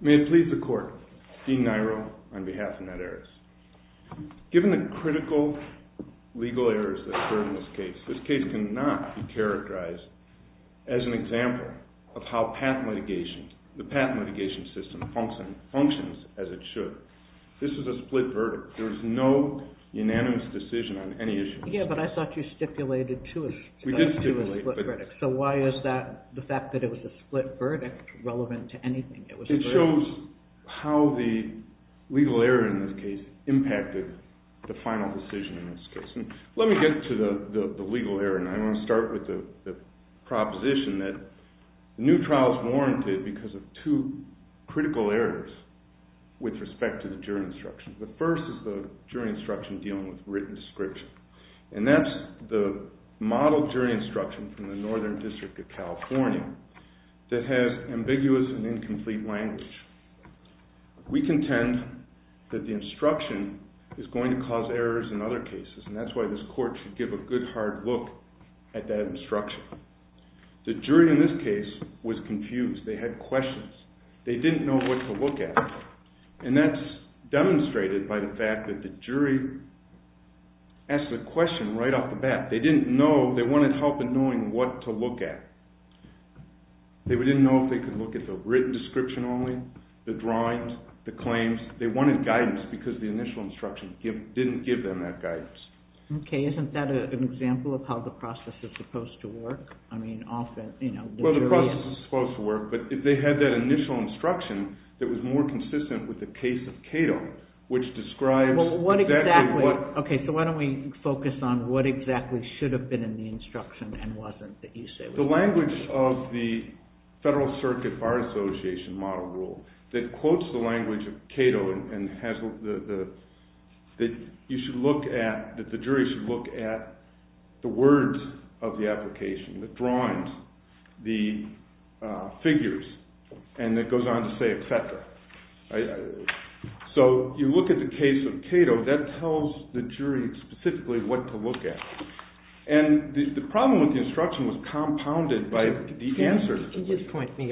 May it please the Court, Dean Niro on behalf of NetAeris. Given the critical legal errors that occurred in this case, this case cannot be characterized as an example of how patent litigation, the patent litigation system functions as it should. This is a split verdict. There is no unanimous decision on any issue. Yeah, but I thought you stipulated two split verdicts. So why is that, the fact that it was a split verdict relevant to anything? It shows how the legal error in this case impacted the final decision in this case. Let me get to the legal error and I want to start with the proposition that new trials warranted because of two critical errors with respect to the jury instruction. The first is the jury instruction dealing with written description. And that's the model jury instruction from the Northern District of California that has ambiguous and incomplete language. We contend that the instruction is going to cause errors in other cases and that's why this Court should give a good hard look at that instruction. The jury in this case was confused. They had questions. They didn't know what to look at. And that's demonstrated by the fact that the jury asked the question right off the bat. They didn't know, they wanted help in knowing what to look at. They didn't know if they could look at the written description only, the drawings, the claims. They wanted guidance because the initial instruction didn't give them that guidance. Okay, isn't that an example of how the process is supposed to work? I mean, often, you know... Well, the process is supposed to work, but if they had that initial instruction that was more consistent with the case of Cato, which describes... that the jury should look at the words of the application, the drawings, the figures, and it goes on to say et cetera. So you look at the case of Cato, that tells the jury specifically what to look at. And the problem with the instruction was compounded by the answer... Could you just point me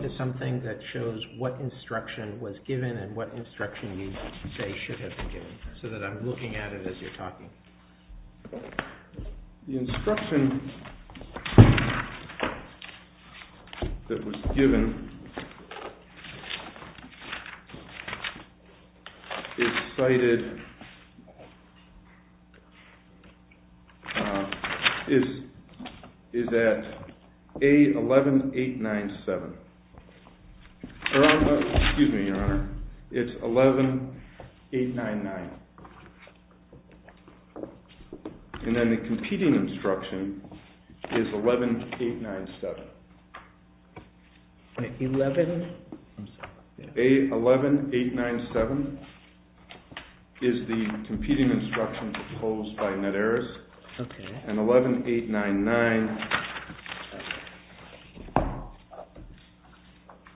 to something that shows what instruction was given and what instruction you say should have been given so that I'm looking at it as you're talking? The instruction that was given is cited... is at A11897. Excuse me, Your Honor. It's 11899. And then the competing instruction is 11897. 11? A11897 is the competing instruction proposed by NEDERIS. And 11899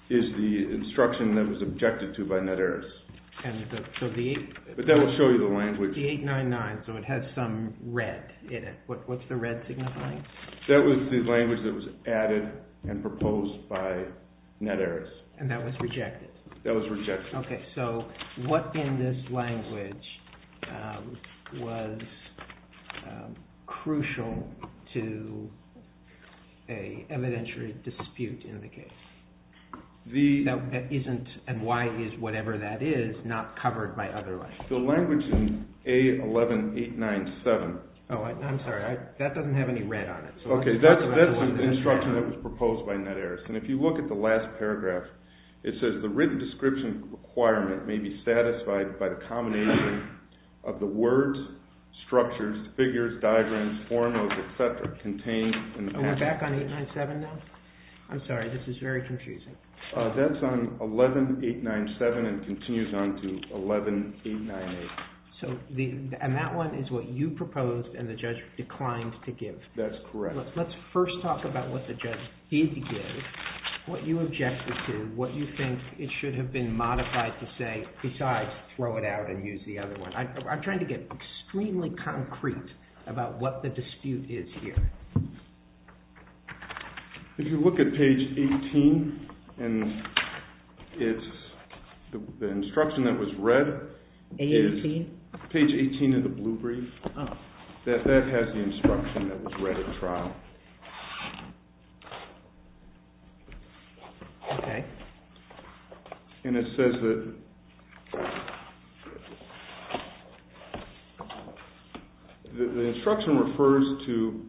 is the instruction that was objected to by NEDERIS. But that will show you the language. The 899, so it has some red in it. What's the red signifying? That was the language that was added and proposed by NEDERIS. And that was rejected? That was rejected. Okay, so what in this language was crucial to an evidentiary dispute in the case? That isn't, and why is whatever that is not covered by other language? The language in A11897... Oh, I'm sorry, that doesn't have any red on it. Okay, that's the instruction that was proposed by NEDERIS. And if you look at the last paragraph, it says the written description requirement may be satisfied by the combination of the words, structures, figures, diagrams, formulas, etc. contained in the... Are we back on 897 now? I'm sorry, this is very confusing. That's on 11897 and continues on to 11898. And that one is what you proposed and the judge declined to give? That's correct. Let's first talk about what the judge did give, what you objected to, what you think it should have been modified to say besides throw it out and use the other one. I'm trying to get extremely concrete about what the dispute is here. If you look at page 18, the instruction that was read is page 18 of the blue brief. That has the instruction that was read at trial. Okay. And it says that the instruction refers to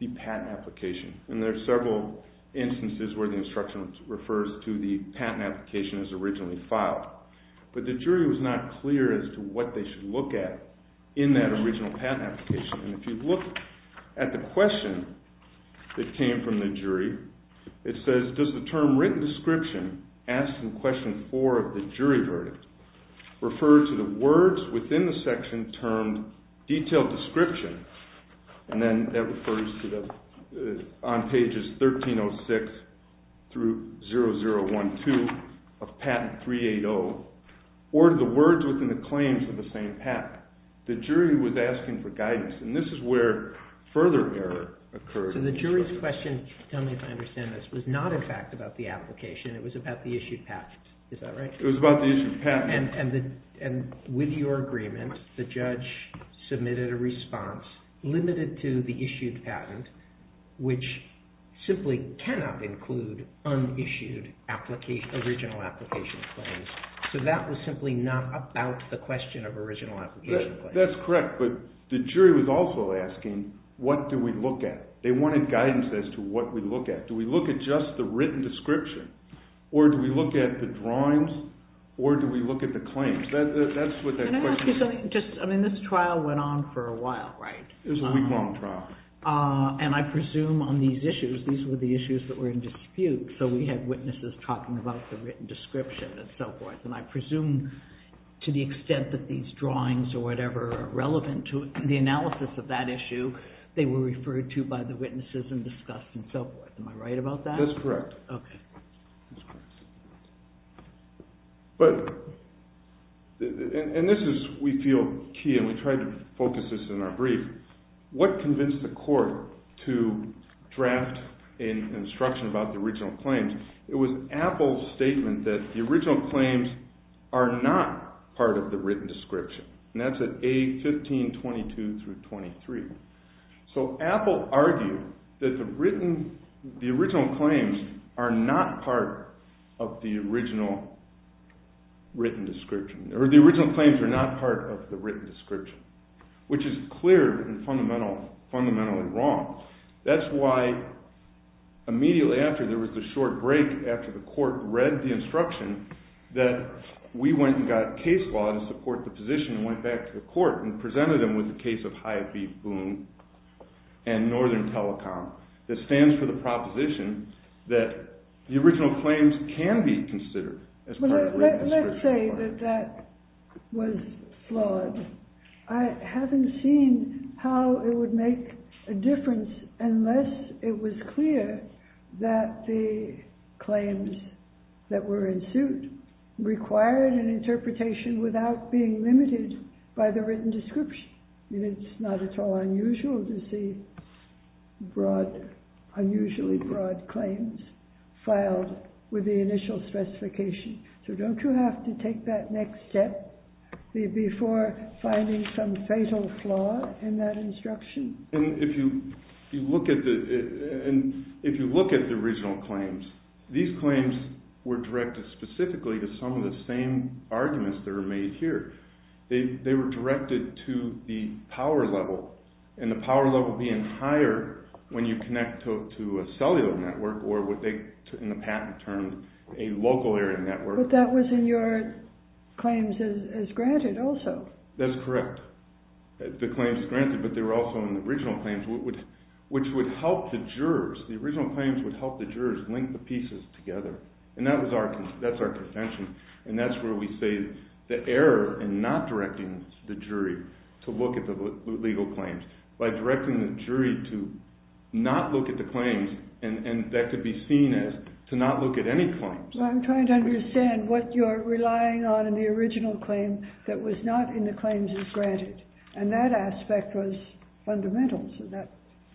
the patent application. And there are several instances where the instruction refers to the patent application as originally filed. But the jury was not clear as to what they should look at in that original patent application. And if you look at the question that came from the jury, it says, does the term written description asked in question four of the jury verdict refer to the words within the section termed detailed description? And then that refers to on pages 1306 through 0012 of patent 380 or the words within the claims of the same patent. The jury was asking for guidance. And this is where further error occurred. So the jury's question, tell me if I understand this, was not in fact about the application. It was about the issued patent. Is that right? It was about the issued patent. And with your agreement, the judge submitted a response limited to the issued patent, which simply cannot include unissued original application claims. So that was simply not about the question of original application claims. That's correct. But the jury was also asking, what do we look at? They wanted guidance as to what we look at. Do we look at just the written description? Or do we look at the drawings? Or do we look at the claims? Can I ask you something? This trial went on for a while, right? It was a week-long trial. And I presume on these issues, these were the issues that were in dispute. So we had witnesses talking about the written description and so forth. And I presume to the extent that these drawings or whatever are relevant to the analysis of that issue, they were referred to by the witnesses and discussed and so forth. Am I right about that? That's correct. And this is, we feel, key, and we tried to focus this in our brief. What convinced the court to draft an instruction about the original claims? It was Apple's statement that the original claims are not part of the written description. And that's at A1522-23. So Apple argued that the original claims are not part of the written description, or the original claims are not part of the written description, which is clear and fundamentally wrong. That's why immediately after, there was a short break after the court read the instruction, that we went and got case law to support the position and went back to the court and presented them with the case of Hyatt v. Boone and Northern Telecom that stands for the proposition that the original claims can be considered as part of the written description. I would say that that was flawed. I haven't seen how it would make a difference unless it was clear that the claims that were in suit required an interpretation without being limited by the written description. It's not at all unusual to see unusually broad claims filed with the initial specification. So don't you have to take that next step before finding some fatal flaw in that instruction? If you look at the original claims, these claims were directed specifically to some of the same arguments that were made here. They were directed to the power level, and the power level being higher when you connect to a cellular network or what they in the patent term a local area network. But that was in your claims as granted also. That's correct. The claims granted, but they were also in the original claims, which would help the jurors. The original claims would help the jurors link the pieces together, and that's our contention. And that's where we say the error in not directing the jury to look at the legal claims by directing the jury to not look at the claims, and that could be seen as to not look at any claims. I'm trying to understand what you're relying on in the original claim that was not in the claims as granted, and that aspect was fundamental, so that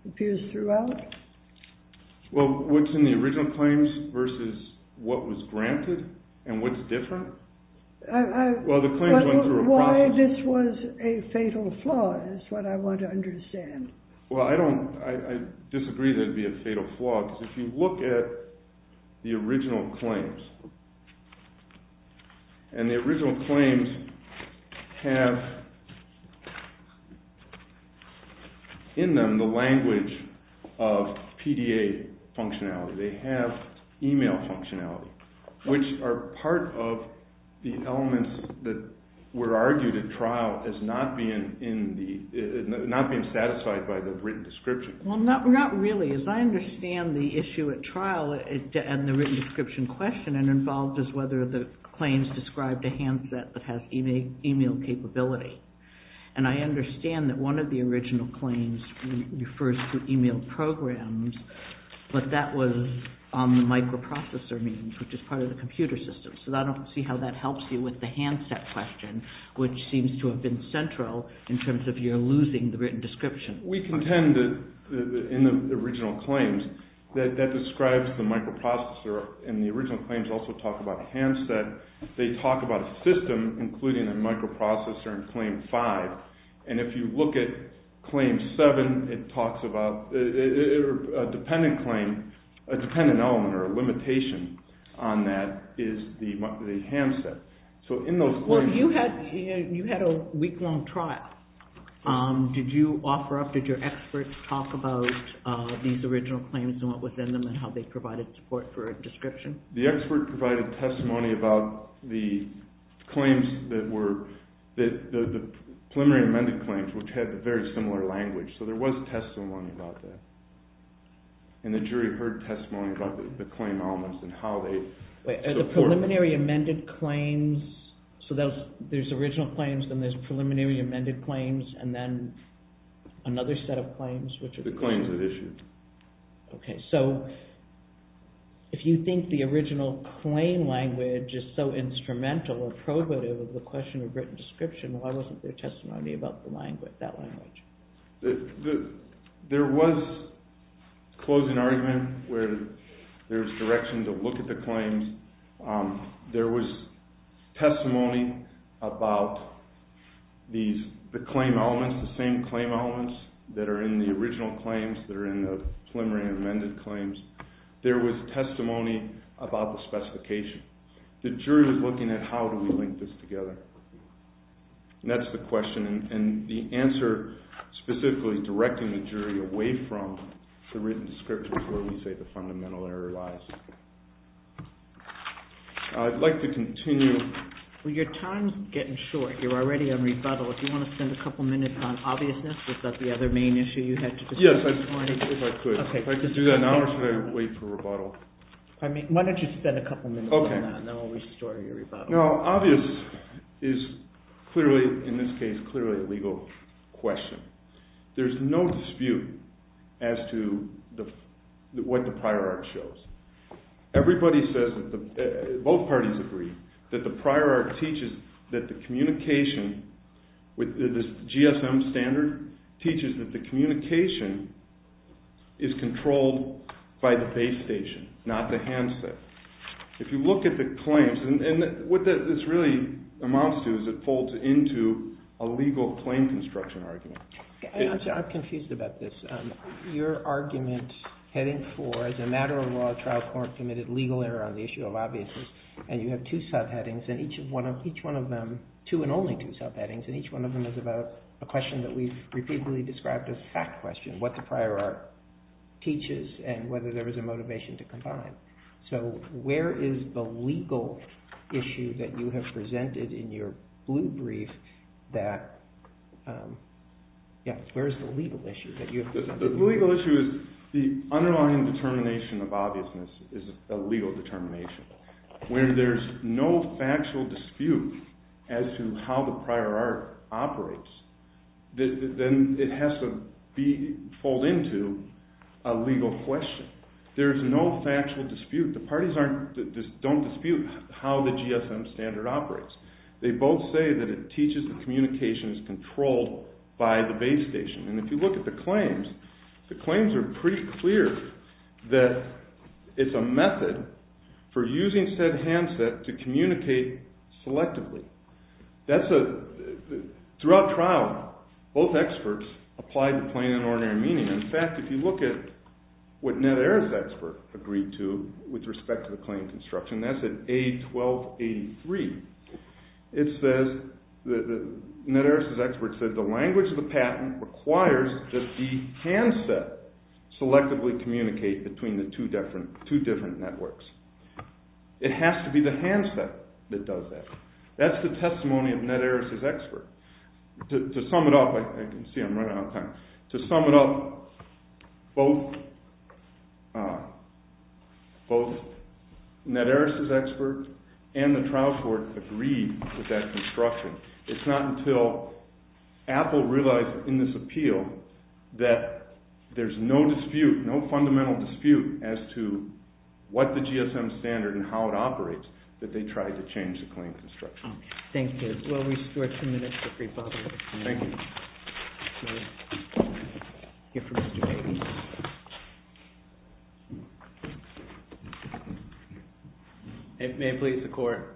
appears throughout. Well, what's in the original claims versus what was granted and what's different? Why this was a fatal flaw is what I want to understand. Well, I disagree that it would be a fatal flaw, because if you look at the original claims, and the original claims have in them the language of PDA functionality. They have email functionality, which are part of the elements that were argued at trial as not being satisfied by the written description. Well, not really. As I understand the issue at trial and the written description question, it involves whether the claims described a handset that has email capability. And I understand that one of the original claims refers to email programs, but that was on the microprocessor means, which is part of the computer system. So I don't see how that helps you with the handset question, which seems to have been central in terms of your losing the written description. We contend that in the original claims, that that describes the microprocessor, and the original claims also talk about a handset. They talk about a system, including a microprocessor in Claim 5, and if you look at Claim 7, it talks about a dependent claim, a dependent element or a limitation on that is the handset. You had a week-long trial. Did you offer up, did your experts talk about these original claims and what was in them and how they provided support for a description? The expert provided testimony about the preliminary amended claims, which had a very similar language, so there was testimony about that. And the jury heard testimony about the claim elements and how they... The preliminary amended claims, so there's original claims, then there's preliminary amended claims, and then another set of claims, which are... The claims that issued. Okay, so if you think the original claim language is so instrumental or probative of the question of written description, why wasn't there testimony about that language? There was closing argument where there was direction to look at the claims. There was testimony about the claim elements, the same claim elements that are in the original claims, that are in the preliminary amended claims. There was testimony about the specification. The jury was looking at how do we link this together. And that's the question, and the answer specifically directing the jury away from the written description is where we say the fundamental error lies. I'd like to continue... Well, your time's getting short. You're already on rebuttal. If you want to spend a couple minutes on obviousness, is that the other main issue you had to discuss this morning? Yes, if I could. If I could do that now or should I wait for rebuttal? Why don't you spend a couple minutes on that and then we'll restore your rebuttal. Now, obvious is clearly, in this case, clearly a legal question. There's no dispute as to what the prior art shows. Everybody says, both parties agree, that the prior art teaches that the communication with the GSM standard teaches that the communication is controlled by the base station, not the handset. If you look at the claims, and what this really amounts to is it folds into a legal claim construction argument. I'm confused about this. Your argument heading for, as a matter of law, a trial court committed legal error on the issue of obviousness, and you have two subheadings, and each one of them, two and only two subheadings, and each one of them is about a question that we've repeatedly described as a fact question, what the prior art teaches and whether there was a motivation to combine. So, where is the legal issue that you have presented in your blue brief that, yeah, where is the legal issue that you have presented? The legal issue is the underlying determination of obviousness is a legal determination. When there's no factual dispute as to how the prior art operates, then it has to fold into a legal question. There's no factual dispute. The parties don't dispute how the GSM standard operates. They both say that it teaches that communication is controlled by the base station, and if you look at the claims, the claims are pretty clear that it's a method for using said handset to communicate selectively. Throughout trial, both experts applied the plain and ordinary meaning. In fact, if you look at what Ned Aris' expert agreed to with respect to the claim construction, that's at A1283, it says, Ned Aris' expert said, the language of the patent requires that the handset selectively communicate between the two different networks. It has to be the handset that does that. That's the testimony of Ned Aris' expert. To sum it up, both Ned Aris' expert and the trial court agreed to that construction. It's not until Apple realized in this appeal that there's no dispute, no fundamental dispute as to what the GSM standard and how it operates, that they tried to change the claim construction. Thank you. We'll restore two minutes for free public comment. May it please the court.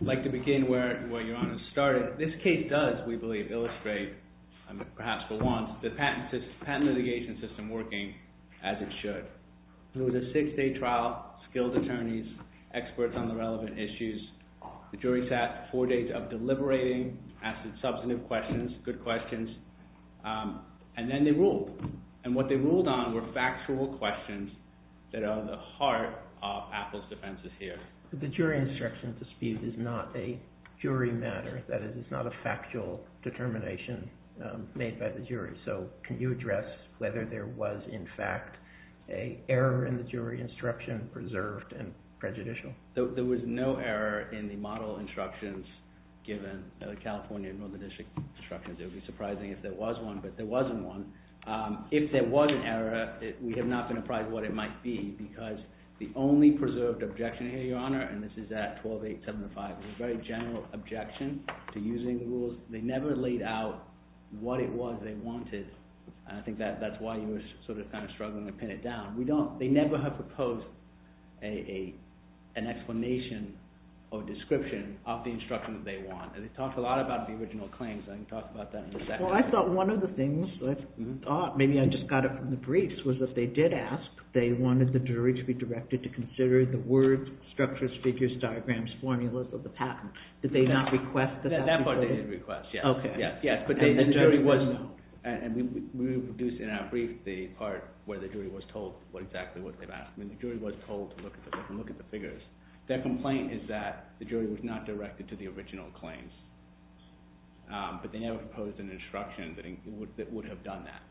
I'd like to begin where Your Honor started. This case does, we believe, illustrate, perhaps for once, the patent litigation system working as it should. It was a six-day trial, skilled attorneys, experts on the relevant issues. The jury sat four days of deliberating, asking substantive questions, good questions, and then they ruled. And what they ruled on were factual questions that are at the heart of Apple's defenses here. The jury instruction dispute is not a jury matter. That is, it's not a factual determination made by the jury. So can you address whether there was, in fact, an error in the jury instruction preserved and prejudicial? There was no error in the model instructions given California and Northern District instructions. It would be surprising if there was one, but there wasn't one. If there was an error, we have not been apprised of what it might be, because the only preserved objection here, Your Honor, and this is at 12.875, was a very general objection to using rules. They never laid out what it was they wanted, and I think that's why you were sort of kind of struggling to pin it down. They never have proposed an explanation or description of the instruction that they want, and they talked a lot about the original claims, and I can talk about that in a second. Well, I thought one of the things, maybe I just got it from the briefs, was that they did ask, they wanted the jury to be directed to consider the words, structures, figures, diagrams, formulas of the patent. Did they not request the patent? That part they did request, yes. Okay. Yes. And we reproduced in our brief the part where the jury was told exactly what they've asked. I mean, the jury was told to look at the figures. Their complaint is that the jury was not directed to the original claims, but they never proposed an instruction that would have done that.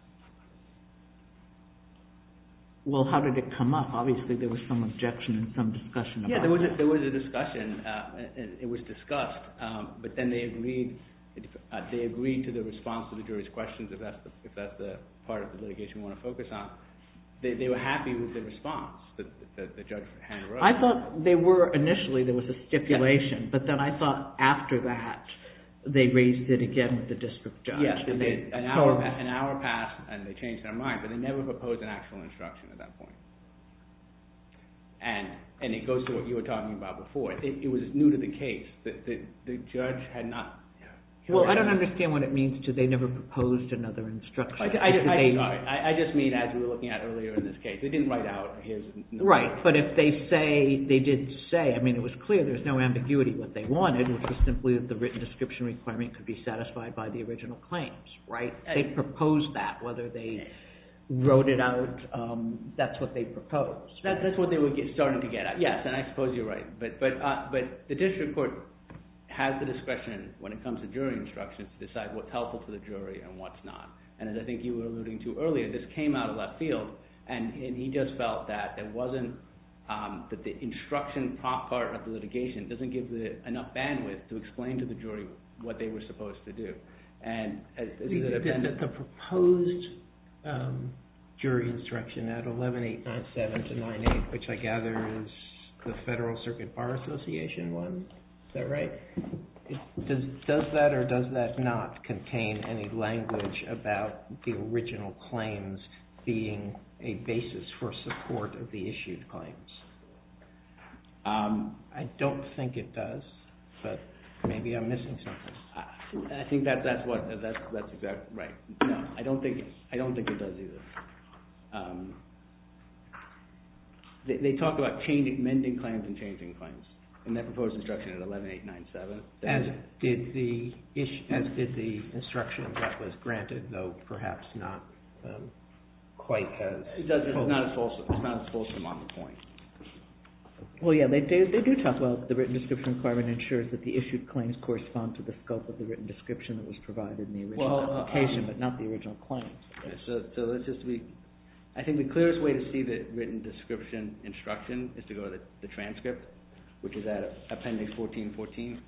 Well, how did it come up? Obviously, there was some objection and some discussion about it. Yes, there was a discussion. It was discussed, but then they agreed to the response to the jury's questions, if that's the part of the litigation we want to focus on. They were happy with the response that the judge handed over. I thought initially there was a stipulation, but then I thought after that they raised it again with the district judge. Yes, and an hour passed and they changed their mind, but they never proposed an actual instruction at that point. And it goes to what you were talking about before. It was new to the case. The judge had not… Well, I don't understand what it means to they never proposed another instruction. I'm sorry. I just mean as we were looking at earlier in this case. They didn't write out, here's… Right, but if they did say, I mean it was clear there was no ambiguity what they wanted, which was simply that the written description requirement could be satisfied by the original claims. They proposed that, whether they wrote it out, that's what they proposed. That's what they were starting to get at. Yes, and I suppose you're right, but the district court has the discretion when it comes to jury instructions to decide what's helpful to the jury and what's not. And as I think you were alluding to earlier, this came out of left field and he just felt that it wasn't, that the instruction part of the litigation doesn't give enough bandwidth to explain to the jury what they were supposed to do. Does that or does that not contain any language about the original claims being a basis for support of the issued claims? I don't think it does, but maybe I'm missing something. I think that's exactly right. No, I don't think it does either. They talk about amending claims and changing claims in their proposed instruction at 11897. As did the instructions that was granted, though perhaps not quite as… It's not as fulsome on the point. Well, yes, they do talk about the written description requirement ensures that the issued claims correspond to the scope of the written description that was provided in the original application, but not the original claims. I think the clearest way to see the written description instruction is to go to the transcript, which is at appendix 1414.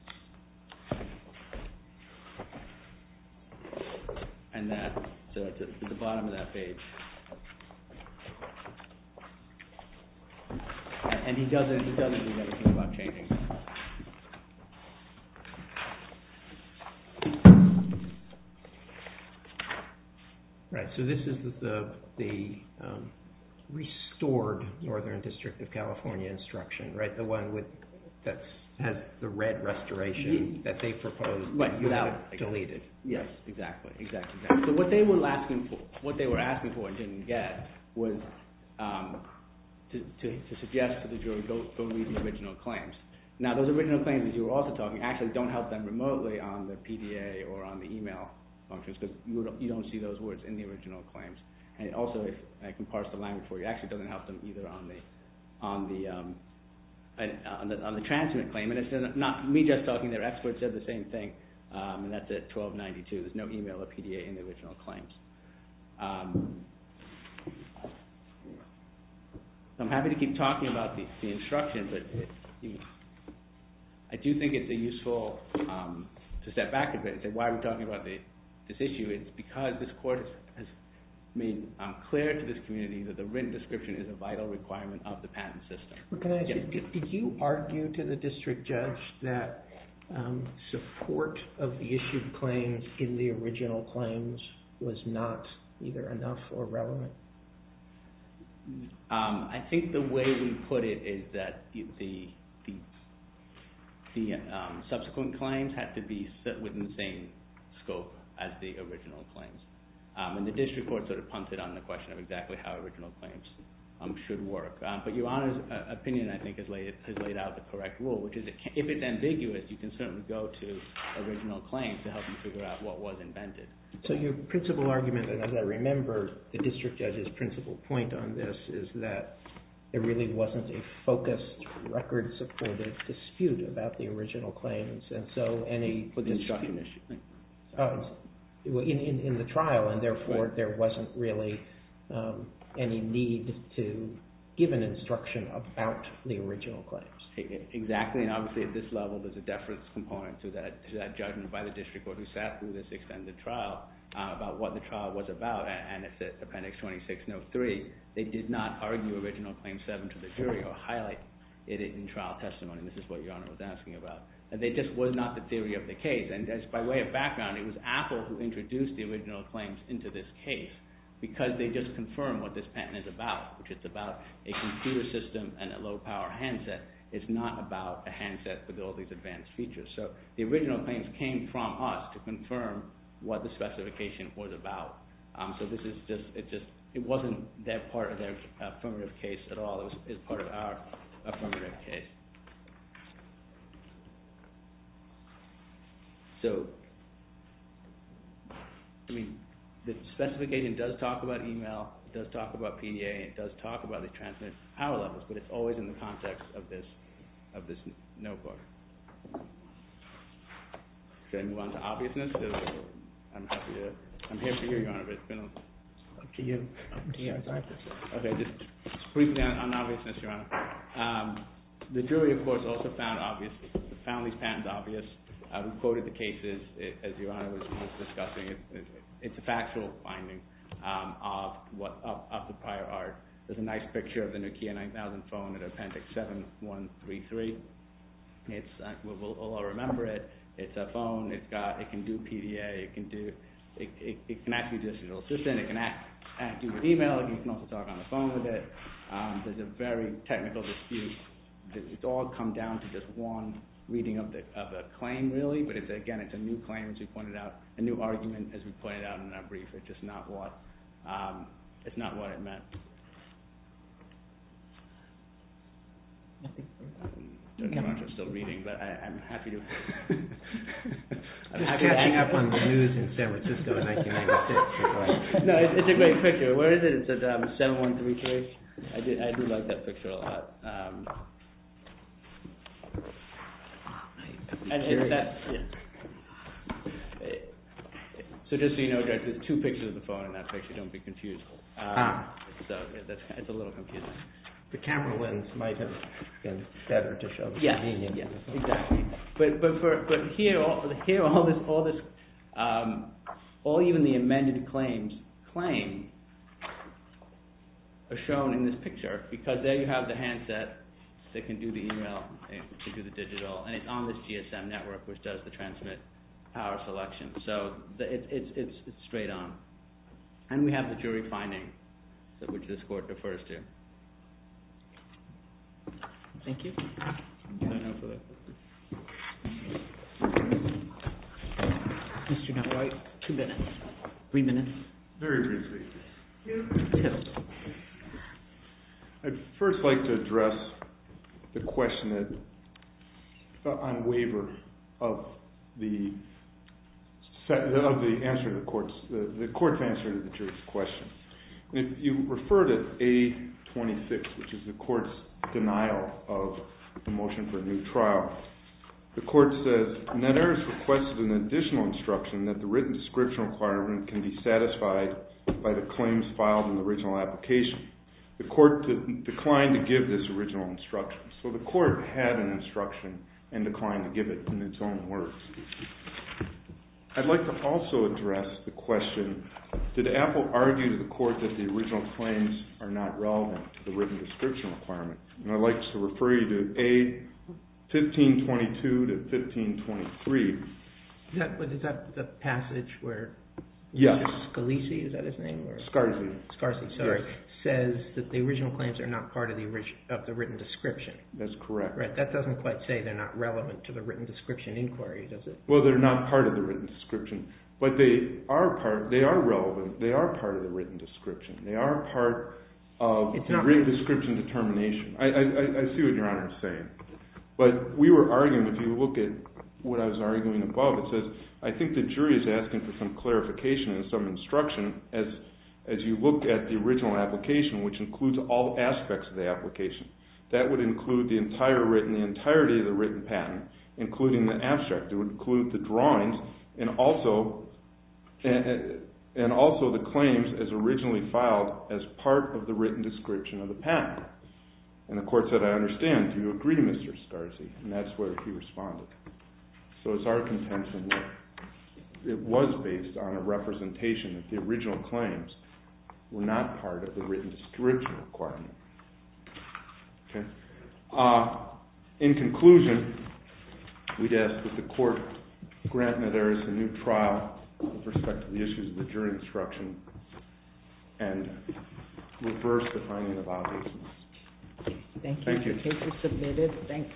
And that's at the bottom of that page. And he doesn't do anything about changing it. Right, so this is the restored Northern District of California instruction, right? The one that has the red restoration that they proposed without deleting. Yes, exactly. So what they were asking for and didn't get was to suggest to the jury, go read the original claims. Now, those original claims, as you were also talking, actually don't help them remotely on the PDA or on the email functions because you don't see those words in the original claims. And also, I can parse the language for you, it actually doesn't help them either on the transcript claim. And it's not me just talking, their experts said the same thing, and that's at 1292. There's no email or PDA in the original claims. So I'm happy to keep talking about the instructions, but I do think it's a useful… I don't know why we're talking about this issue, it's because this court has made clear to this community that the written description is a vital requirement of the patent system. Can I ask you, did you argue to the district judge that support of the issued claims in the original claims was not either enough or relevant? I think the way we put it is that the subsequent claims had to be within the same scope as the original claims. And the district court sort of pumped it on the question of exactly how original claims should work. But your Honor's opinion, I think, has laid out the correct rule, which is if it's ambiguous, you can certainly go to original claims to help you figure out what was invented. So your principal argument, and as I remember the district judge's principal point on this, is that there really wasn't a focused, record-supported dispute about the original claims. And so any… For the instruction issue. In the trial, and therefore there wasn't really any need to give an instruction about the original claims. Exactly, and obviously at this level there's a deference component to that judgment by the district court who sat through this extended trial about what the trial was about. And it's appendix 2603. They did not argue original claims 7 to the jury or highlight it in trial testimony. This is what your Honor was asking about. And they just were not the theory of the case. And by way of background, it was Apple who introduced the original claims into this case because they just confirmed what this patent is about. Which is about a computer system and a low-power handset. It's not about a handset with all these advanced features. So the original claims came from us to confirm what the specification was about. So this is just, it wasn't that part of their affirmative case at all. It was part of our affirmative case. So, I mean, the specification does talk about email, it does talk about PDA, it does talk about the transmitted power levels, but it's always in the context of this notebook. Should I move on to obviousness? I'm here for you, Your Honor, but it's been up to you. The jury, of course, also found these patents obvious. We quoted the cases, as Your Honor was discussing. It's a factual finding of the prior art. There's a nice picture of the Nokia 9000 phone at Appendix 7133. We'll all remember it. It's a phone. It can do PDA. It can act as an assistant. It can act as an email. You can also talk on the phone with it. There's a very technical dispute. It's all come down to just one reading of the claim, really. But, again, it's a new claim, as we pointed out, a new argument, as we pointed out in our brief. It's just not what it meant. I don't know if you're still reading, but I'm happy to... I'm catching up on the news in San Francisco in 1996. No, it's a great picture. Where is it? It's at 7133. I do like that picture a lot. Just so you know, Judge, there's two pictures of the phone in that picture. Don't be confused. It's a little confusing. The camera lens might have been better to show. Yeah, exactly. But here, all this... All even the amended claims are shown in this picture, because there you have the handset that can do the email, that can do the digital, and it's on this GSM network, which does the transmit power selection. So it's straight on. And we have the jury finding, which this court refers to. Thank you. I don't know for that picture. Two minutes. Three minutes. Very briefly. I'd first like to address the question on waiver of the answer to the court's... the court's answer to the jury's question. If you refer to A26, which is the court's denial of the motion for a new trial, the court says, Netteris requested an additional instruction that the written description requirement can be satisfied by the claims filed in the original application. The court declined to give this original instruction. So the court had an instruction and declined to give it in its own words. I'd like to also address the question, did Apple argue to the court that the original claims are not relevant to the written description requirement? And I'd like to refer you to A1522 to 1523. Is that the passage where... Yes. Scalise, is that his name? Scarzi. Scarzi, sorry. Says that the original claims are not part of the written description. That's correct. That doesn't quite say they're not relevant to the written description inquiry, does it? Well, they're not part of the written description. But they are relevant. They are part of the written description. They are part of the written description determination. I see what Your Honor is saying. But we were arguing, if you look at what I was arguing above, it says I think the jury is asking for some clarification and some instruction as you look at the original application, which includes all aspects of the application. That would include the entirety of the written patent, including the abstract. It would include the drawings and also the claims as originally filed as part of the written description of the patent. And the court said, I understand. Do you agree, Mr. Scarzi? And that's where he responded. So it's our contention that it was based on a representation that the original claims were not part of the written description requirement. Okay. In conclusion, we'd ask that the court grant that there is a new trial with respect to the issues of the jury instruction and reverse the finding of violations. Thank you. Thank you.